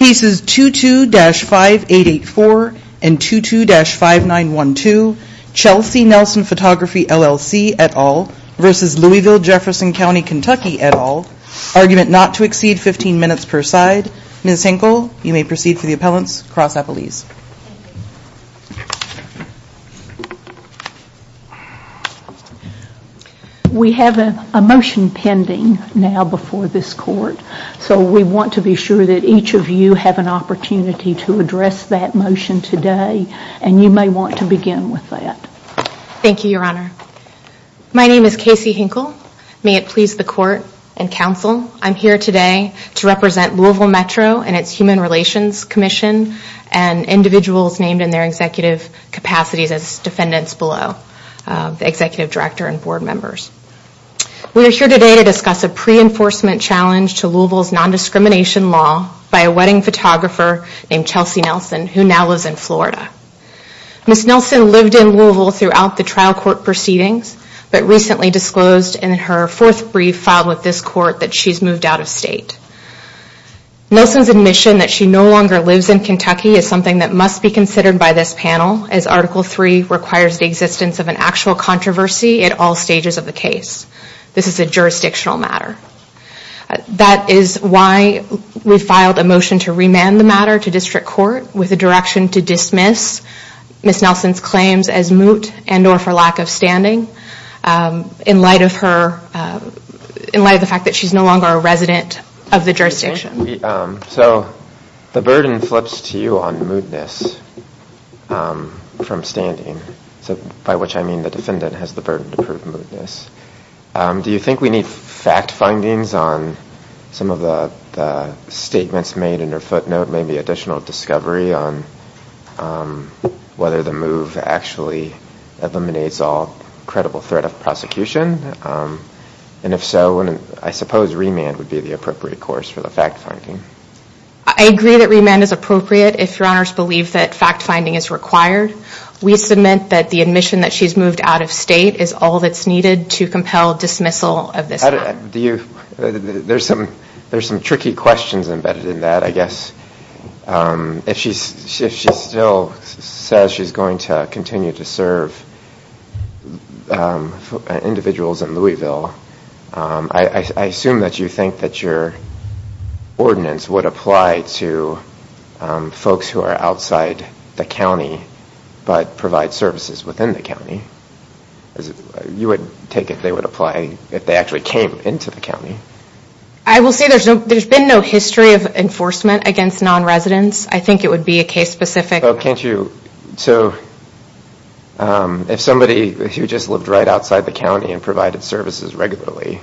et al. Argument not to exceed 15 minutes per side. Ms. Hinkle, you may proceed for the appellants. Cross appellees. We have a motion pending now before this court, so we want to be sure that each of you have an opportunity to address that motion today and you may want to begin with that. Thank you, Your Honor. My name is Casey Hinkle. May it please the court and counsel, I'm here today to represent Louisville Metro and its Human Relations Commission and individuals named in their executive capacities as defendants below, the executive director and board members. We are here today to discuss a pre-enforcement challenge to Louisville's non-discrimination law by a wedding photographer named Chelsea Nelson, who now lives in Florida. Ms. Nelson lived in Louisville throughout the trial court proceedings, but recently disclosed in her fourth brief filed with this court that she's moved out of state. Nelson's admission that she no longer lives in Kentucky is something that must be considered by this panel, as Article 3 requires the existence of an actual controversy at all stages of the case. This is a jurisdictional matter. That is why we filed a motion to remand the matter to district court with a direction to dismiss Ms. Nelson's claims as moot and or for lack of standing in light of the fact that she's no longer a resident of the jurisdiction. So the burden flips to you on mootness from standing, by which I mean the defendant has the burden to prove mootness. Do you think we need fact findings on some of the statements made in her footnote, maybe additional discovery on whether the move actually eliminates all credible threat of prosecution? And if so, I suppose remand would be the appropriate course for the fact finding. I agree that remand is appropriate if your honors believe that fact finding is required. We submit that the admission that she's moved out of state is all that's needed to compel dismissal of this matter. There's some tricky questions embedded in that, I guess. If she still says she's going to continue to serve individuals in Louisville, I assume that you think that your ordinance would apply to folks who are outside the county but provide services within the county. You would take it they would apply if they actually came into the county? I will say there's been no history of enforcement against non-residents. I think it would be a case specific. So if somebody who just lived right outside the county and provided services regularly,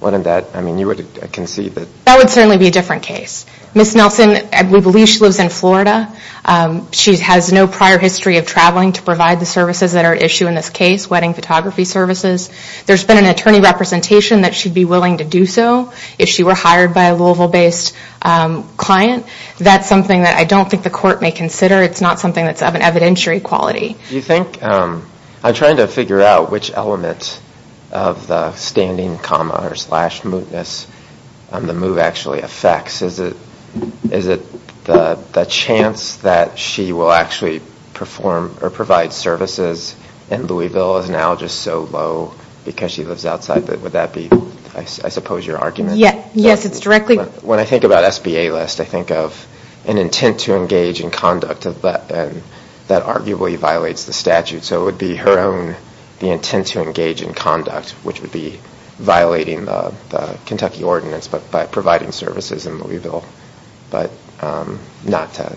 wouldn't that, I mean you would concede that? That would certainly be a different case. Ms. Nelson, we believe she lives in Florida. She has no prior history of traveling to provide the services that are at issue in this case, wedding photography services. There's been an attorney representation that she'd be willing to do so if she were hired by a Louisville-based client. That's something that I don't think the court may consider. It's not something that's of an evidentiary quality. I'm trying to figure out which element of the standing comma or slash mootness the move actually affects. Is it the chance that she will actually provide services in Louisville is now just so low because she lives outside? Would that be, I suppose, your argument? When I think about SBA list, I think of an intent to engage in conduct that arguably violates the statute. So it would be her own intent to engage in conduct, which would be violating the Kentucky ordinance by providing services in Louisville, but not to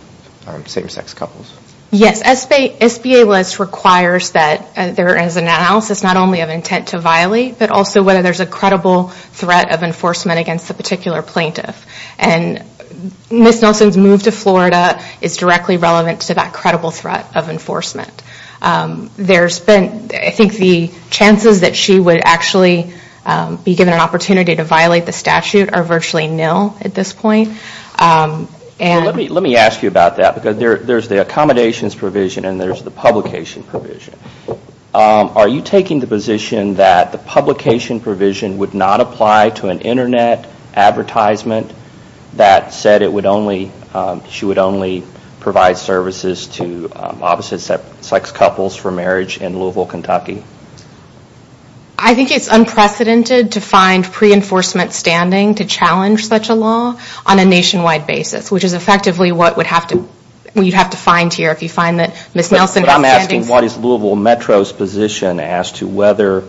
same-sex couples. Yes, SBA list requires that there is an analysis not only of intent to violate, but also whether there's a credible threat of enforcement against the particular plaintiff. Ms. Nelson's move to Florida is directly relevant to that credible threat of enforcement. I think the chances that she would actually be given an opportunity to violate the statute are virtually nil at this point. Let me ask you about that because there's the accommodations provision and there's the publication provision. Are you taking the position that the publication provision would not apply to an internet advertisement that said she would only provide services to opposite-sex couples for marriage in Louisville, Kentucky? I think it's unprecedented to find pre-enforcement standing to challenge such a law on a nationwide basis, which is effectively what you'd have to find here if you find that Ms. Nelson has standing. I'm asking what is Louisville Metro's position as to whether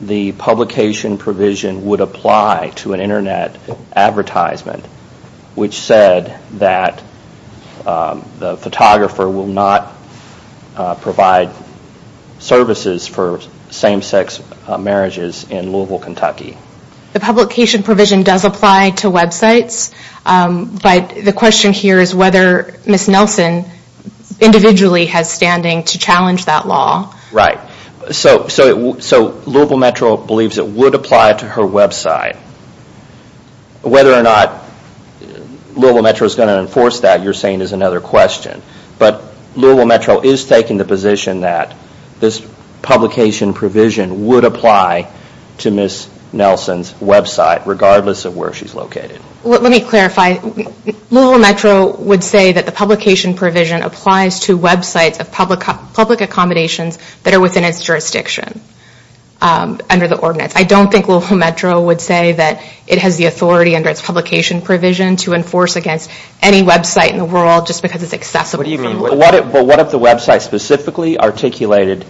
the publication provision would apply to an internet advertisement which said that the photographer will not provide services for same-sex marriages in Louisville, Kentucky? The publication provision does apply to websites, but the question here is whether Ms. Nelson individually has standing to challenge that law. Louisville Metro believes it would apply to her website. Whether or not Louisville Metro is going to enforce that is another question, but Louisville Metro is taking the position that this publication provision would apply to Ms. Nelson's website regardless of where she's located. Let me clarify. Louisville Metro would say that the publication provision applies to websites of public accommodations that are within its jurisdiction under the ordinance. I don't think Louisville Metro would say that it has the authority under its publication provision to enforce against any website in the world just because it's accessible. What if the website specifically articulated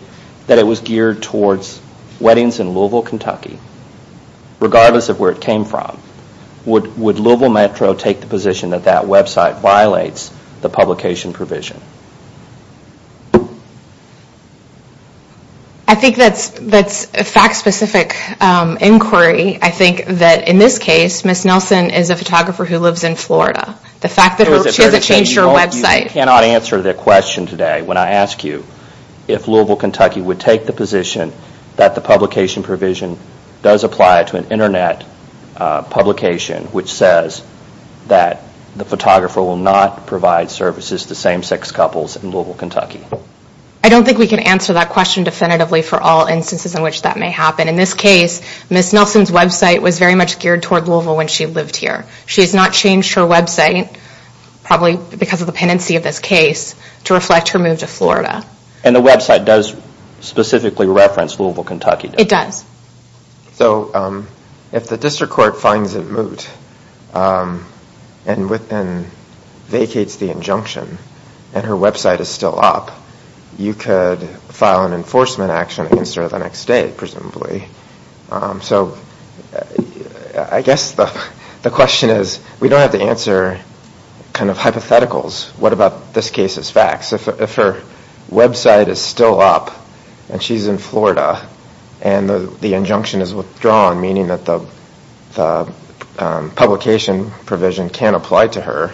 that it was geared towards weddings in Louisville, Kentucky regardless of where it came from? Would Louisville Metro take the position that that website violates the publication provision? I think that's a fact-specific inquiry. I think that in this case, Ms. Nelson is a photographer who lives in Florida. The fact that she hasn't changed her website... I don't think we can answer that question definitively for all instances in which that may happen. In this case, Ms. Nelson's website was very much geared toward Louisville when she lived here. She has not changed her website, probably because of the pendency of this case, to reflect her move to Florida. And the website does specifically reference Louisville, Kentucky? It does. So if the district court finds it moot and vacates the injunction and her website is still up, you could file an enforcement action against her the next day, presumably. So I guess the question is, we don't have to answer kind of hypotheticals. What about this case's facts? If her website is still up and she's in Florida and the injunction is withdrawn, meaning that the publication provision can't apply to her,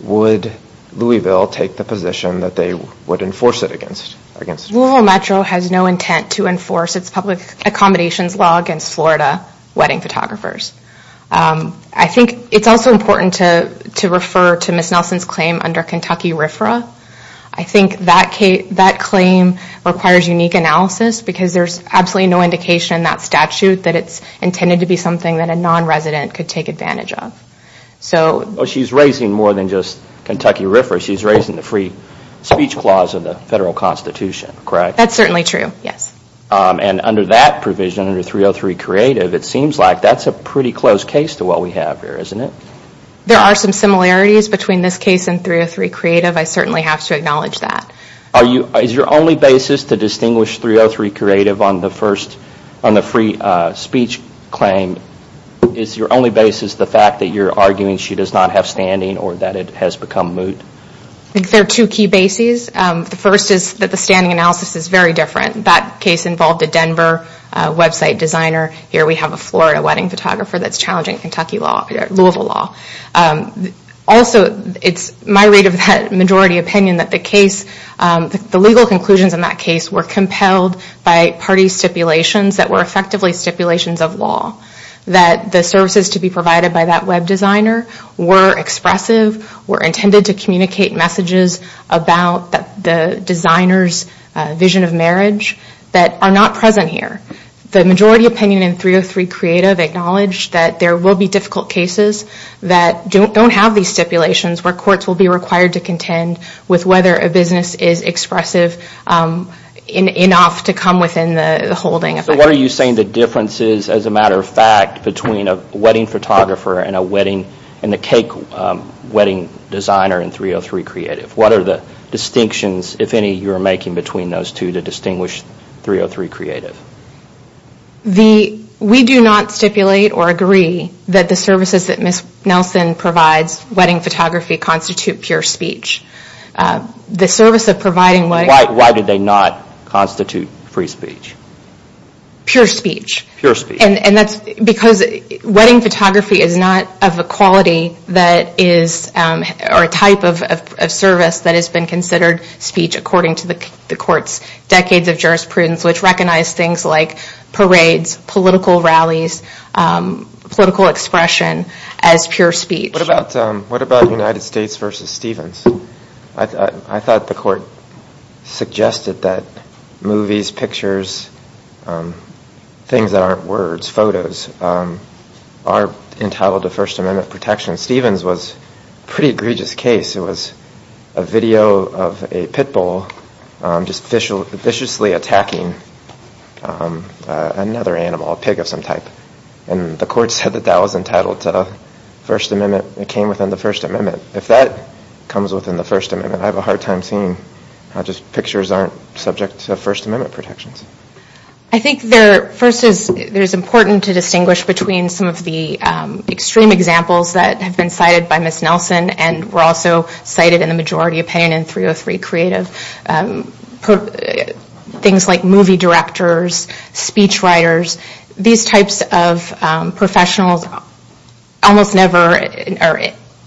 would Louisville take the position that they would enforce it against her? Louisville Metro has no intent to enforce its public accommodations law against Florida wedding photographers. I think it's also important to refer to Ms. Nelson's claim under Kentucky RFRA. I think that claim requires unique analysis because there's absolutely no indication in that statute that it's intended to be something that a non-resident could take advantage of. She's raising more than just Kentucky RFRA. She's raising the free speech clause of the federal constitution, correct? That's certainly true, yes. And under that provision, under 303 Creative, it seems like that's a pretty close case to what we have here, isn't it? There are some similarities between this case and 303 Creative. I certainly have to acknowledge that. Is your only basis to distinguish 303 Creative on the free speech claim, is your only basis the fact that you're arguing she does not have standing or that it has become moot? I think there are two key bases. The first is that the standing analysis is very different. That case involved a Denver website designer. Here we have a Florida wedding photographer that's challenging Kentucky law, Louisville law. Also, it's my read of that majority opinion that the legal conclusions in that case were compelled by party stipulations that were effectively stipulations of law. That the services to be provided by that web designer were expressive, were intended to communicate messages about the designer's vision of marriage that are not present here. The majority opinion in 303 Creative acknowledged that there will be difficult cases that don't have these stipulations where courts will be required to contend with whether a business is expressive enough to come within the holding. What are you saying the difference is, as a matter of fact, between a wedding photographer and the cake wedding designer in 303 Creative? What are the distinctions, if any, you're making between those two to distinguish 303 Creative? We do not stipulate or agree that the services that Ms. Nelson provides, wedding photography, constitute pure speech. Why did they not constitute free speech? Pure speech. Pure speech. Because wedding photography is not of a quality that is, or a type of service that has been considered speech according to the court's decades of jurisprudence, which recognize things like parades, political rallies, political expression as pure speech. What about United States v. Stevens? I thought the court suggested that movies, pictures, things that aren't words, photos, are entitled to First Amendment protection. Stevens was a pretty egregious case. It was a video of a pit bull just viciously attacking another animal, a pig of some type. And the court said that that was entitled to First Amendment, it came within the First Amendment. If that comes within the First Amendment, I have a hard time seeing how just pictures aren't subject to First Amendment protections. I think first it's important to distinguish between some of the extreme examples that have been cited by Ms. Nelson and were also cited in the majority opinion in 303 Creative. Things like movie directors, speech writers, these types of professionals almost never, in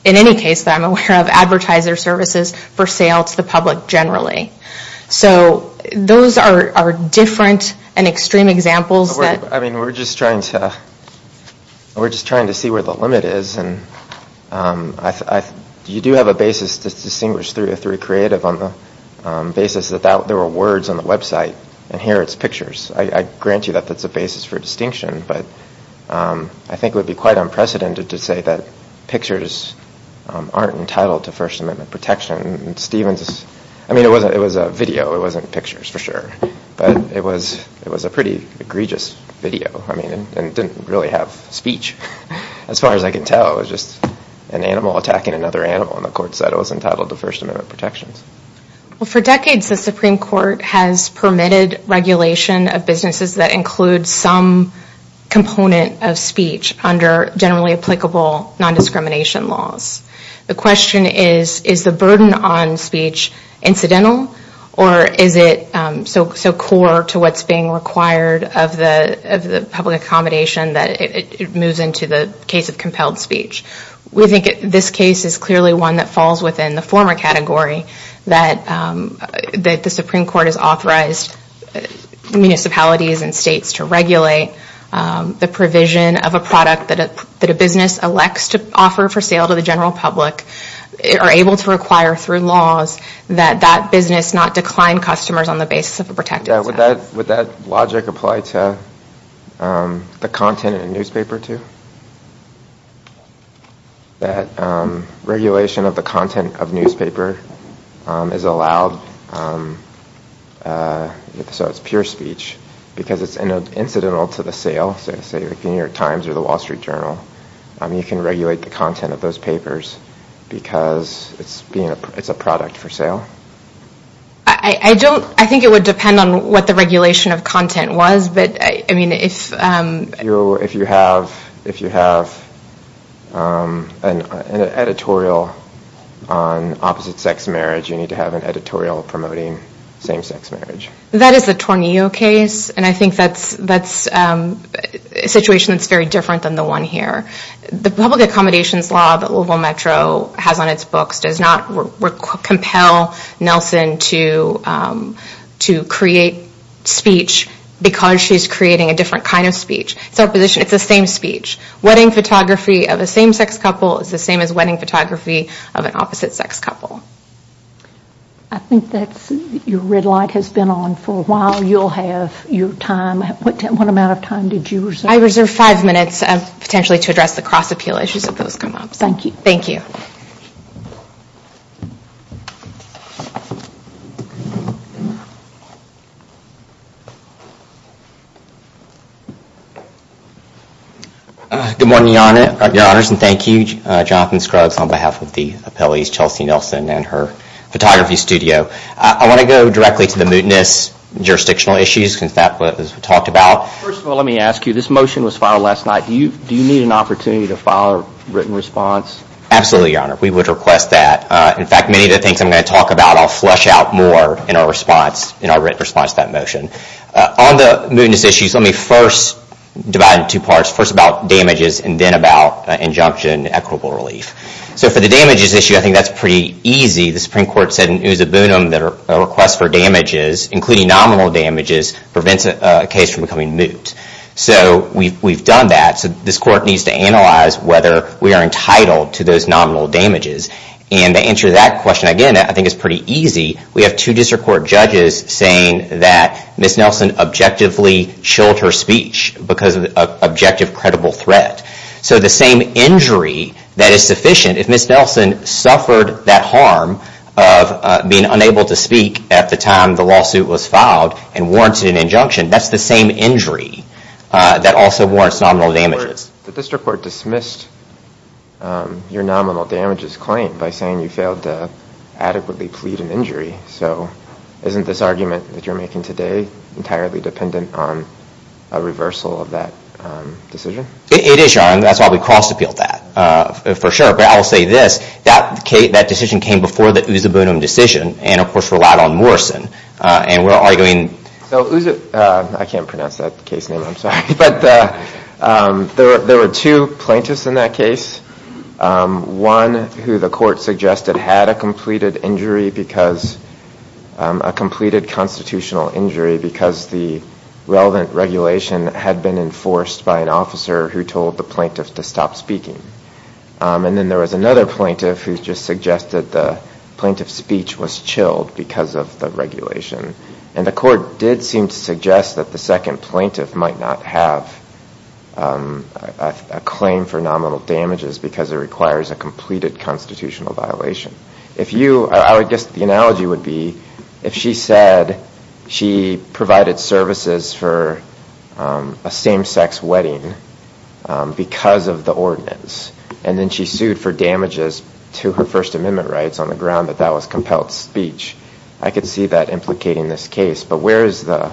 any case that I'm aware of, advertise their services for sale to the public generally. So those are different and extreme examples. We're just trying to see where the limit is. You do have a basis to distinguish 303 Creative on the basis that there were words on the website and here it's pictures. I grant you that that's a basis for distinction, but I think it would be quite unprecedented to say that pictures aren't entitled to First Amendment protection. It was a video, it wasn't pictures for sure, but it was a pretty egregious video and it didn't really have speech. As far as I can tell, it was just an animal attacking another animal and the court said it was entitled to First Amendment protections. For decades, the Supreme Court has permitted regulation of businesses that include some component of speech under generally applicable non-discrimination laws. The question is, is the burden on speech incidental or is it so core to what's being required of the public accommodation that it moves into the case of compelled speech? We think this case is clearly one that falls within the former category that the Supreme Court has authorized municipalities and states to regulate the provision of a product that a business elects to offer for sale to the general public are able to require through laws that that business not decline customers on the basis of a protected status. Would that logic apply to the content in a newspaper, too? That regulation of the content of newspaper is allowed, so it's pure speech, because it's incidental to the sale, so say the New York Times or the Wall Street Journal, you can regulate the content of those papers because it's a product for sale? I think it would depend on what the regulation of content was, but if you have an editorial on opposite-sex marriage, you need to have an editorial promoting same-sex marriage. That is the Tornillo case, and I think that's a situation that's very different than the one here. The public accommodations law that Louisville Metro has on its books does not compel Nelson to create speech because she's creating a different kind of speech. It's the same speech. Wedding photography of a same-sex couple is the same as wedding photography of an opposite-sex couple. I think your red light has been on for a while. You'll have your time. What amount of time did you reserve? I reserved five minutes, potentially, to address the cross-appeal issues if those come up. Thank you. Thank you. Good morning, Your Honors, and thank you, Jonathan Scruggs, on behalf of the appellees, Chelsea Nelson and her photography studio. I want to go directly to the mootness, jurisdictional issues, because that's what was talked about. First of all, let me ask you, this motion was filed last night. Do you need an opportunity to file a written response? Absolutely, Your Honor. We would request that. In fact, many of the things I'm going to talk about I'll flesh out more in our written response to that motion. On the mootness issues, let me first divide it into two parts, first about damages and then about injunction equitable relief. So for the damages issue, I think that's pretty easy. The Supreme Court said in Usa Bunum that a request for damages, including nominal damages, prevents a case from becoming moot. So we've done that. So this court needs to analyze whether we are entitled to those nominal damages. And to answer that question, again, I think it's pretty easy. We have two district court judges saying that Ms. Nelson objectively chilled her speech because of objective credible threat. So the same injury that is sufficient, if Ms. Nelson suffered that harm of being unable to speak at the time the lawsuit was filed and warranted an injunction, that's the same injury that also warrants nominal damages. The district court dismissed your nominal damages claim by saying you failed to adequately plead an injury. So isn't this argument that you're making today entirely dependent on a reversal of that decision? It is, Your Honor, and that's why we cross appealed that, for sure. But I will say this, that decision came before the Usa Bunum decision and, of course, relied on Morrison. And we're arguing— So Usa—I can't pronounce that case name, I'm sorry. But there were two plaintiffs in that case, one who the court suggested had a completed injury because— a completed constitutional injury because the relevant regulation had been enforced by an officer who told the plaintiff to stop speaking. And then there was another plaintiff who just suggested the plaintiff's speech was chilled because of the regulation. And the court did seem to suggest that the second plaintiff might not have a claim for nominal damages because it requires a completed constitutional violation. I would guess the analogy would be if she said she provided services for a same-sex wedding because of the ordinance and then she sued for damages to her First Amendment rights on the ground that that was compelled speech, I could see that implicating this case. But where is the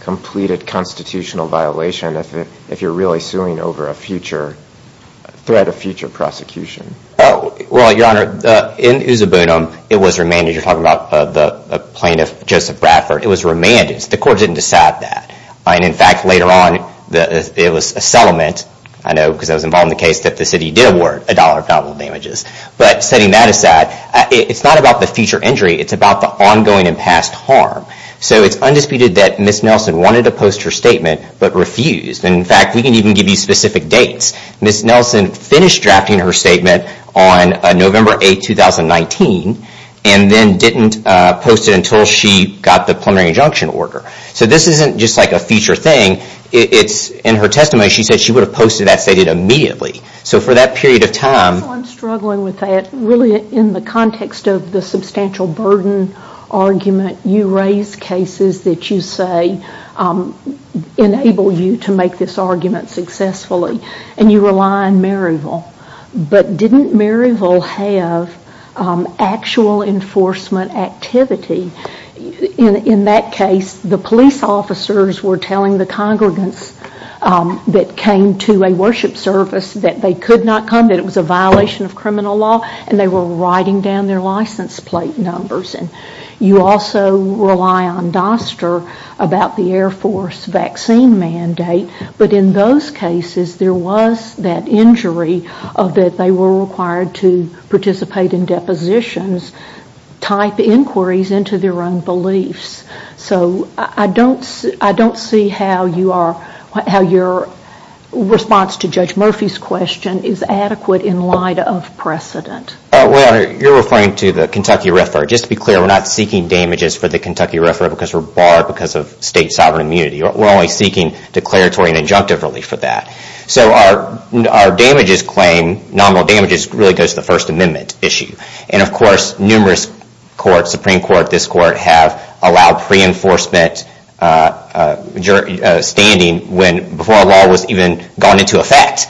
completed constitutional violation if you're really suing over a future—a threat of future prosecution? Well, Your Honor, in Usa Boonham, it was remanded. You're talking about the plaintiff, Joseph Bradford. It was remanded. The court didn't decide that. And in fact, later on, it was a settlement. I know because I was involved in the case that the city did award a dollar of nominal damages. But setting that aside, it's not about the future injury. It's about the ongoing and past harm. So it's undisputed that Ms. Nelson wanted to post her statement but refused. And in fact, we can even give you specific dates. Ms. Nelson finished drafting her statement on November 8, 2019, and then didn't post it until she got the preliminary injunction order. So this isn't just like a feature thing. In her testimony, she said she would have posted that statement immediately. So for that period of time— I'm struggling with that. Really, in the context of the substantial burden argument, you raise cases that you say enable you to make this argument successfully, and you rely on Maryville. But didn't Maryville have actual enforcement activity? In that case, the police officers were telling the congregants that came to a worship service that they could not come, that it was a violation of criminal law, and they were writing down their license plate numbers. And you also rely on Doster about the Air Force vaccine mandate. But in those cases, there was that injury that they were required to participate in depositions, type inquiries into their own beliefs. So I don't see how your response to Judge Murphy's question is adequate in light of precedent. Well, you're referring to the Kentucky RFRA. Just to be clear, we're not seeking damages for the Kentucky RFRA because we're barred because of state sovereign immunity. We're only seeking declaratory and injunctive relief for that. So our damages claim, nominal damages, really goes to the First Amendment issue. And of course, numerous courts, Supreme Court, this court, have allowed pre-enforcement standing before a law was even gone into effect.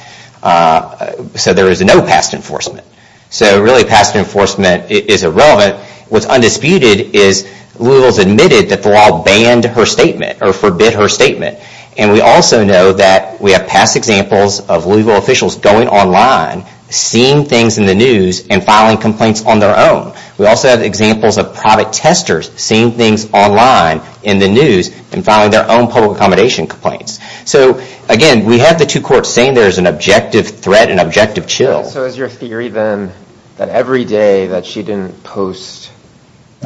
So there is no past enforcement. So really, past enforcement is irrelevant. What's undisputed is Louisville's admitted that the law banned her statement or forbid her statement. And we also know that we have past examples of Louisville officials going online, seeing things in the news, and filing complaints on their own. We also have examples of private testers seeing things online in the news and filing their own public accommodation complaints. So again, we have the two courts saying there's an objective threat, an objective chill. So is your theory then that every day that she didn't post,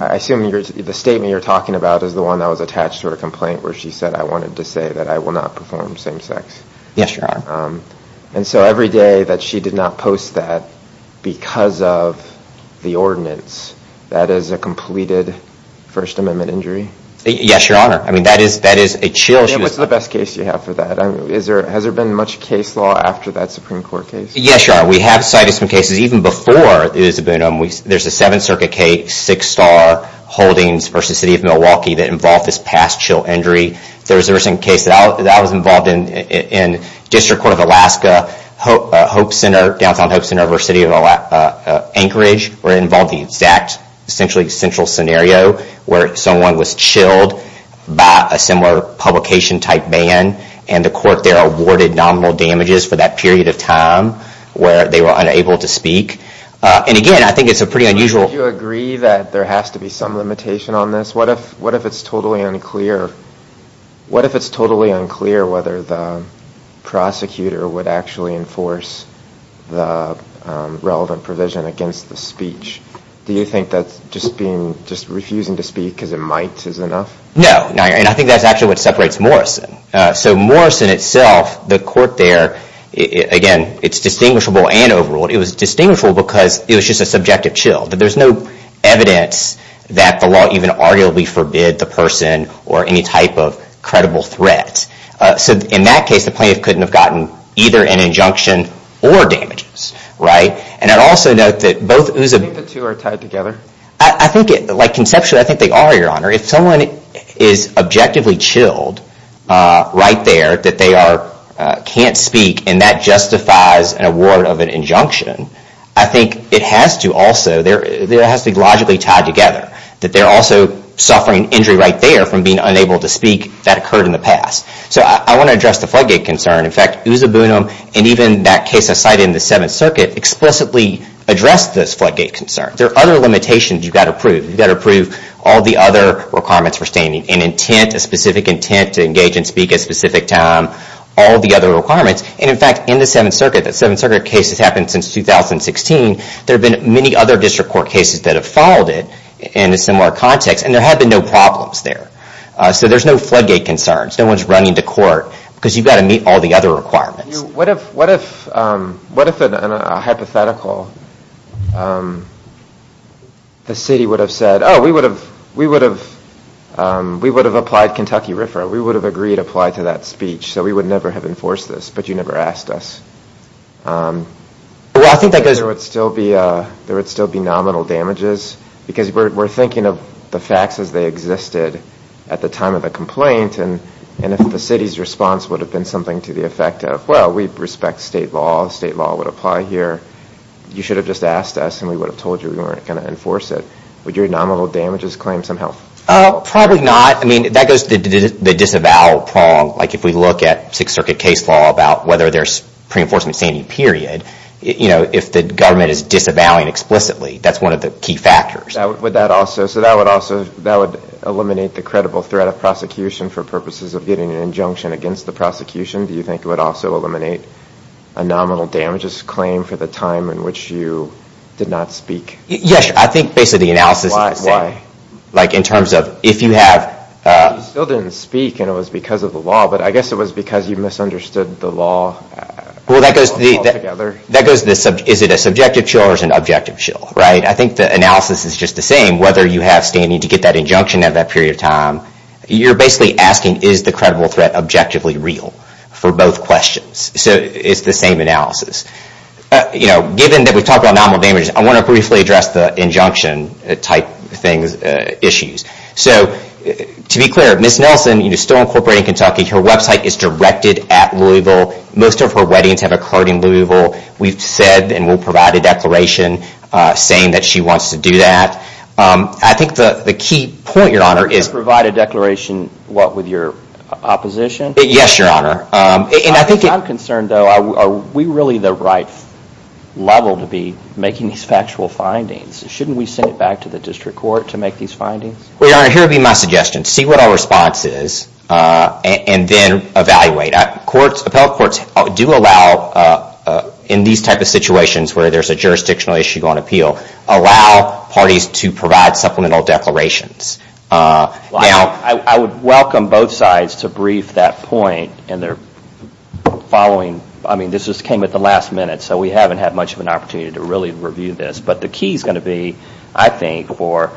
I assume the statement you're talking about is the one that was attached to her complaint where she said, I wanted to say that I will not perform same sex. Yes, Your Honor. And so every day that she did not post that because of the ordinance, that is a completed First Amendment injury? Yes, Your Honor. I mean, that is a chill. What's the best case you have for that? Has there been much case law after that Supreme Court case? Yes, Your Honor. We have cited some cases even before it has been. There's a Seventh Circuit case, Six Star Holdings v. City of Milwaukee that involved this past chill injury. There was a recent case that I was involved in in District Court of Alaska, Hope Center, downtown Hope Center v. City of Anchorage, where it involved the exact essentially central scenario where someone was chilled by a similar publication type ban. And the court there awarded nominal damages for that period of time where they were unable to speak. And again, I think it's a pretty unusual... Do you agree that there has to be some limitation on this? What if it's totally unclear whether the prosecutor would actually enforce the relevant provision against the speech? Do you think that just refusing to speak because it might is enough? No. And I think that's actually what separates Morrison. So Morrison itself, the court there, again, it's distinguishable and overruled. It was distinguishable because it was just a subjective chill. There's no evidence that the law even arguably forbid the person or any type of credible threat. So in that case, the plaintiff couldn't have gotten either an injunction or damages. Right? And I'd also note that both... Do you think the two are tied together? I think, like conceptually, I think they are, Your Honor. If someone is objectively chilled right there that they can't speak and that justifies an award of an injunction, I think it has to also... It has to be logically tied together that they're also suffering injury right there from being unable to speak. That occurred in the past. So I want to address the floodgate concern. In fact, Usaboonam and even that case I cited in the Seventh Circuit explicitly addressed this floodgate concern. There are other limitations you've got to prove. You've got to prove all the other requirements for standing. An intent, a specific intent to engage and speak at a specific time, all the other requirements. And in fact, in the Seventh Circuit, that Seventh Circuit case has happened since 2016, there have been many other district court cases that have followed it in a similar context, and there have been no problems there. So there's no floodgate concerns. No one's running to court because you've got to meet all the other requirements. What if a hypothetical, the city would have said, oh, we would have applied Kentucky RFRA. We would have agreed to apply to that speech, so we would never have enforced this, but you never asked us. There would still be nominal damages because we're thinking of the facts as they existed at the time of the complaint, and if the city's response would have been something to the effect of, well, we respect state law. State law would apply here. You should have just asked us, and we would have told you we weren't going to enforce it. Would your nominal damages claim some help? Probably not. I mean, that goes to the disavow prong. Like if we look at Sixth Circuit case law about whether there's pre-enforcement standing, period. You know, if the government is disavowing explicitly, that's one of the key factors. So that would eliminate the credible threat of prosecution for purposes of getting an injunction against the prosecution. Do you think it would also eliminate a nominal damages claim for the time in which you did not speak? Yes, I think basically the analysis is the same. Why? Like in terms of if you have... You still didn't speak, and it was because of the law, but I guess it was because you misunderstood the law altogether. Is it a subjective shill or is it an objective shill? I think the analysis is just the same. Whether you have standing to get that injunction at that period of time, you're basically asking is the credible threat objectively real for both questions. So it's the same analysis. You know, given that we've talked about nominal damages, I want to briefly address the injunction-type issues. So to be clear, Ms. Nelson is still incorporated in Kentucky. Her website is directed at Louisville. Most of her weddings have occurred in Louisville. We've said and will provide a declaration saying that she wants to do that. I think the key point, Your Honor, is... Provide a declaration, what, with your opposition? Yes, Your Honor. I'm concerned, though, are we really the right level to be making these factual findings? Shouldn't we send it back to the district court to make these findings? Well, Your Honor, here would be my suggestion. See what our response is and then evaluate. Appellate courts do allow in these type of situations where there's a jurisdictional issue on appeal, allow parties to provide supplemental declarations. Now... I would welcome both sides to brief that point in their following... I mean, this just came at the last minute, so we haven't had much of an opportunity to really review this. But the key is going to be, I think, for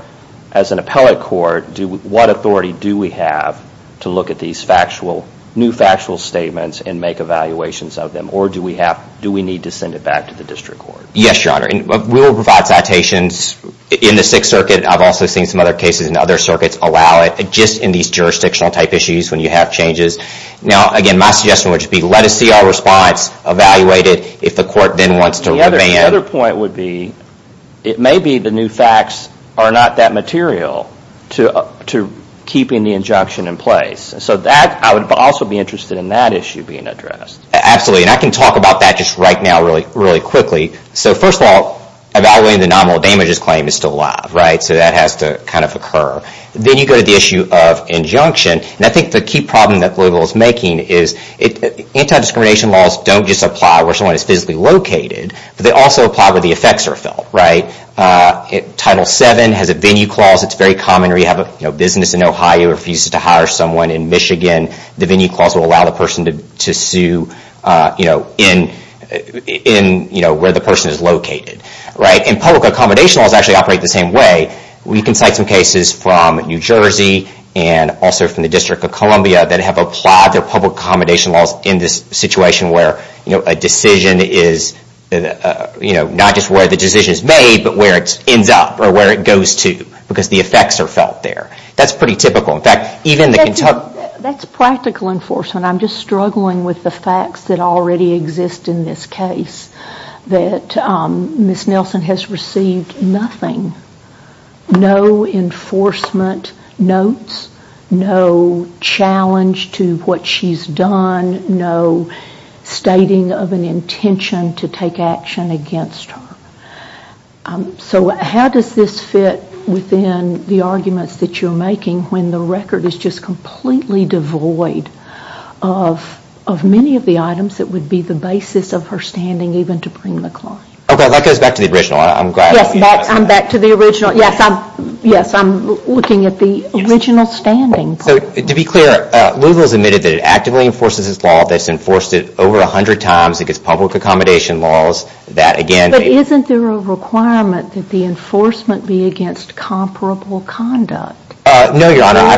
as an appellate court, what authority do we have to look at these factual, new factual statements and make evaluations of them? Or do we need to send it back to the district court? Yes, Your Honor. We will provide citations in the Sixth Circuit. I've also seen some other cases in other circuits allow it, just in these jurisdictional-type issues when you have changes. Now, again, my suggestion would be let us see our response, evaluate it, if the court then wants to... The other point would be, it may be the new facts are not that material to keeping the injunction in place. So I would also be interested in that issue being addressed. Absolutely. And I can talk about that just right now really quickly. So first of all, evaluating the nominal damages claim is still alive, right? So that has to kind of occur. Then you go to the issue of injunction. And I think the key problem that Louisville is making is anti-discrimination laws don't just apply where someone is physically located, but they also apply where the effects are felt, right? Title VII has a venue clause that's very common where you have a business in Ohio who refuses to hire someone in Michigan. The venue clause will allow the person to sue where the person is located, right? And public accommodation laws actually operate the same way. We can cite some cases from New Jersey and also from the District of Columbia that have applied their public accommodation laws in this situation where a decision is... not just where the decision is made, but where it ends up or where it goes to because the effects are felt there. That's pretty typical. That's practical enforcement. I'm just struggling with the facts that already exist in this case that Ms. Nelson has received nothing. No enforcement notes. No challenge to what she's done. No stating of an intention to take action against her. So how does this fit within the arguments that you're making when the record is just completely devoid of many of the items that would be the basis of her standing even to bring the claim? Okay, that goes back to the original. Yes, I'm back to the original. Yes, I'm looking at the original standing. To be clear, Louisville has admitted that it actively enforces its law, that it's enforced it over 100 times against public accommodation laws. But isn't there a requirement that the enforcement be against comparable conduct? No, Your Honor, I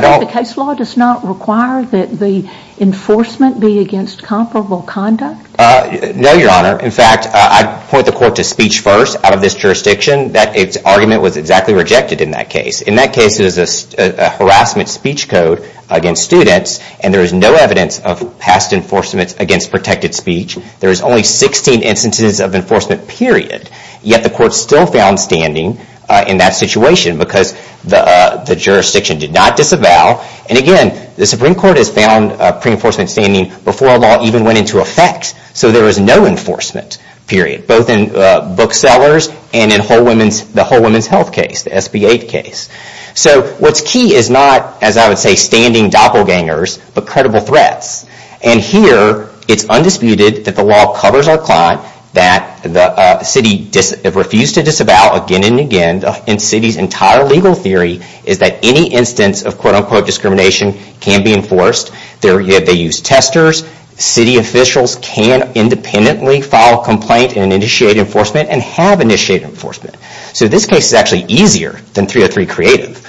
don't... The case law does not require that the enforcement be against comparable conduct? No, Your Honor. In fact, I'd point the court to speech first out of this jurisdiction. That argument was exactly rejected in that case. In that case, it was a harassment speech code against students and there is no evidence of past enforcement against protected speech. There is only 16 instances of enforcement, period. Yet the court still found standing in that situation because the jurisdiction did not disavow. And again, the Supreme Court has found pre-enforcement standing before a law even went into effect. So there was no enforcement, period, both in Booksellers and in the Whole Women's Health case, the SB-8 case. So what's key is not, as I would say, standing doppelgangers, but credible threats. And here, it's undisputed that the law covers our client, that the city refused to disavow again and again. And the city's entire legal theory is that any instance of, quote-unquote, discrimination can be enforced. They use testers. City officials can independently file a complaint and initiate enforcement and have initiated enforcement. So this case is actually easier than 303 Creative.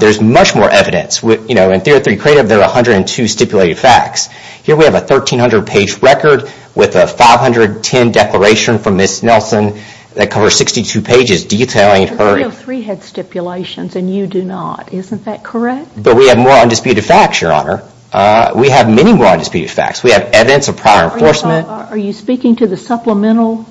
There's much more evidence. In 303 Creative, there are 102 stipulated facts. Here, we have a 1,300-page record with a 510 declaration from Ms. Nelson that covers 62 pages detailing her. But 303 had stipulations, and you do not. Isn't that correct? But we have more undisputed facts, Your Honor. We have many more undisputed facts. We have evidence of prior enforcement. Are you speaking to the supplemental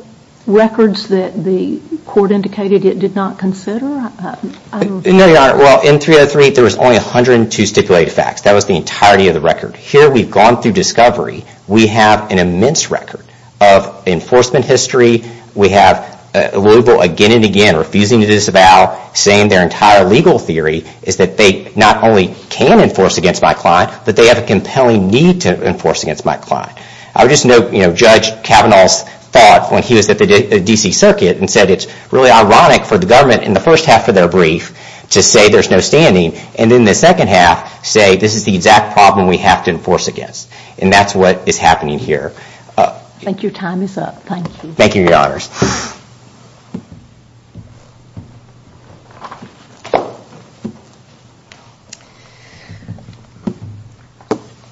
records that the court indicated it did not consider? No, Your Honor. Well, in 303, there was only 102 stipulated facts. That was the entirety of the record. Here, we've gone through discovery. We have an immense record of enforcement history. We have Louisville again and again refusing to disavow, saying their entire legal theory is that they not only can enforce against my client, but they have a compelling need to enforce against my client. I would just note Judge Kavanaugh's thought and said it's really ironic for the government in the first half of their brief to say there's no standing and in the second half say, this is the exact problem we have to enforce against. And that's what is happening here. Thank you. Your time is up. Thank you. Thank you, Your Honors.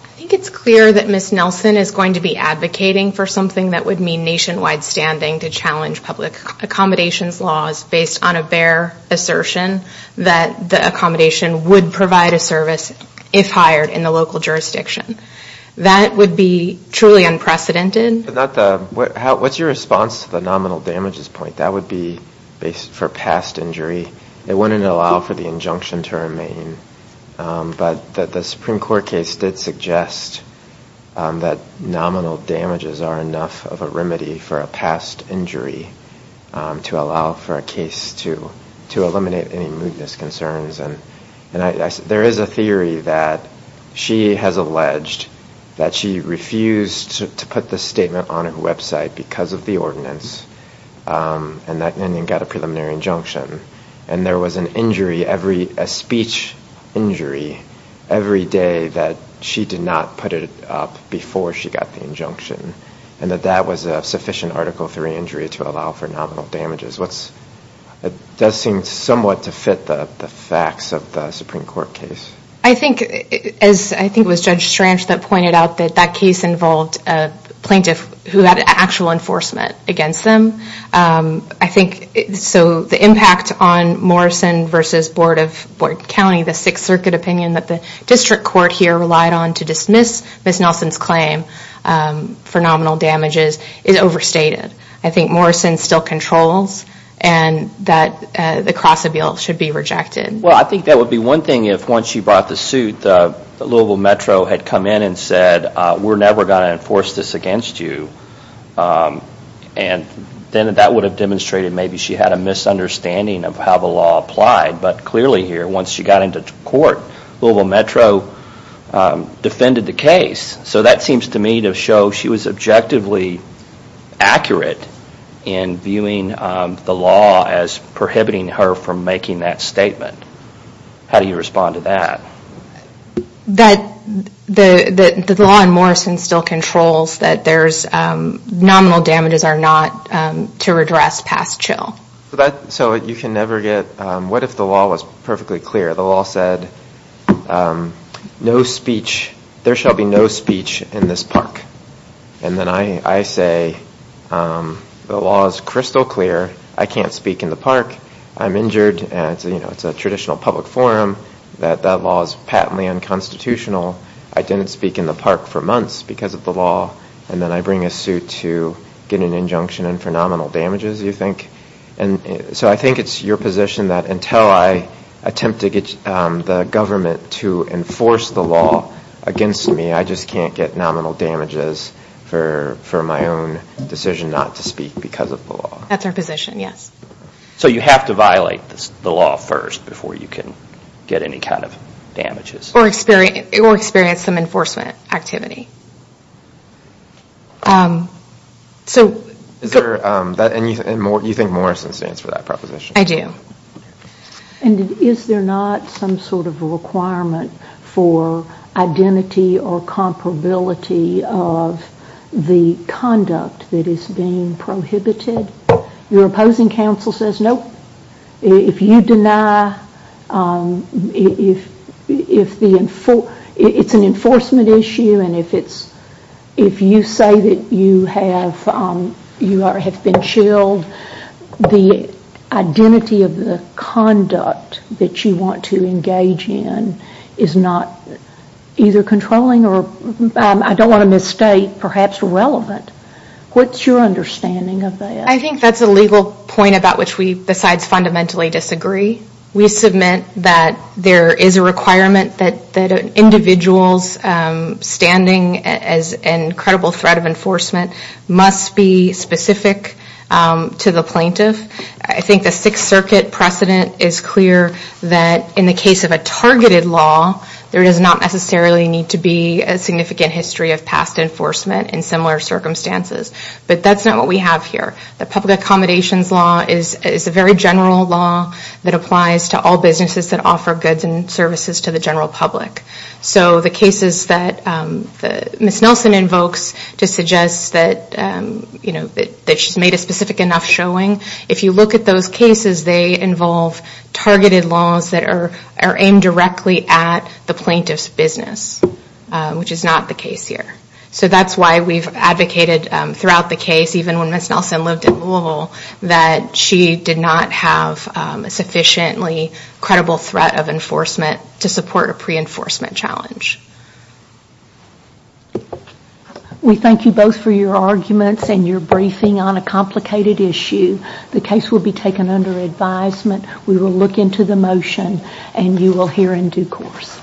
I think it's clear that Ms. Nelson is going to be advocating for something that would mean nationwide standing to challenge public accommodations laws based on a bare assertion that the accommodation would provide a service if hired in the local jurisdiction. That would be truly unprecedented. What's your response to the nominal damages point? That would be for past injury. It wouldn't allow for the injunction to remain. that nominal damages are enough of a remedy for a past injury to allow for a case to eliminate any mootness concerns. And there is a theory that she has alleged that she refused to put the statement on her website because of the ordinance and then got a preliminary injunction. And there was an injury, a speech injury, every day that she did not put it up before she got the injunction. And that that was a sufficient Article III injury to allow for nominal damages. It does seem somewhat to fit the facts of the Supreme Court case. I think it was Judge Strange that pointed out that that case involved a plaintiff who had actual enforcement against them. So the impact on Morrison v. Board County, the Sixth Circuit opinion that the district court here relied on to dismiss Ms. Nelson's claim for nominal damages is overstated. I think Morrison still controls and that the cross-appeal should be rejected. Well, I think that would be one thing if once she brought the suit, Louisville Metro had come in and said we're never going to enforce this against you. And then that would have demonstrated maybe she had a misunderstanding of how the law applied. But clearly here, once she got into court, Louisville Metro defended the case. So that seems to me to show she was objectively accurate in viewing the law as prohibiting her from making that statement. How do you respond to that? That the law in Morrison still controls that nominal damages are not to redress past chill. So you can never get... What if the law was perfectly clear? The law said there shall be no speech in this park. And then I say the law is crystal clear. I can't speak in the park. I'm injured. It's a traditional public forum that that law is patently unconstitutional. I didn't speak in the park for months because of the law. And then I bring a suit to get an injunction and for nominal damages, you think? So I think it's your position that until I attempt to get the government to enforce the law against me, I just can't get nominal damages for my own decision not to speak because of the law? That's our position, yes. So you have to violate the law first before you can get any kind of damages? Or experience some enforcement activity. And you think Morrison stands for that proposition? I do. And is there not some sort of requirement for identity or comparability of the conduct that is being prohibited? Your opposing counsel says, Nope. If you deny... It's an enforcement issue and if you say that you have been chilled, the identity of the conduct that you want to engage in is not either controlling or, I don't want to misstate, perhaps irrelevant. What's your understanding of that? I think that's a legal point about which we besides fundamentally disagree. We submit that there is a requirement that individuals standing as an incredible threat of enforcement must be specific to the plaintiff. I think the Sixth Circuit precedent is clear that in the case of a targeted law, there does not necessarily need to be a significant history of past enforcement in similar circumstances. But that's not what we have here. The public accommodations law is a very general law that applies to all businesses that offer goods and services to the general public. So the cases that Ms. Nelson invokes to suggest that she's made a specific enough showing, if you look at those cases, they involve targeted laws that are aimed directly at the plaintiff's business, which is not the case here. So that's why we've advocated throughout the case, even when Ms. Nelson lived in Louisville, that she did not have a sufficiently credible threat of enforcement to support a pre-enforcement challenge. We thank you both for your arguments and your briefing on a complicated issue. The case will be taken under advisement. We will look into the motion, and you will hear in due course.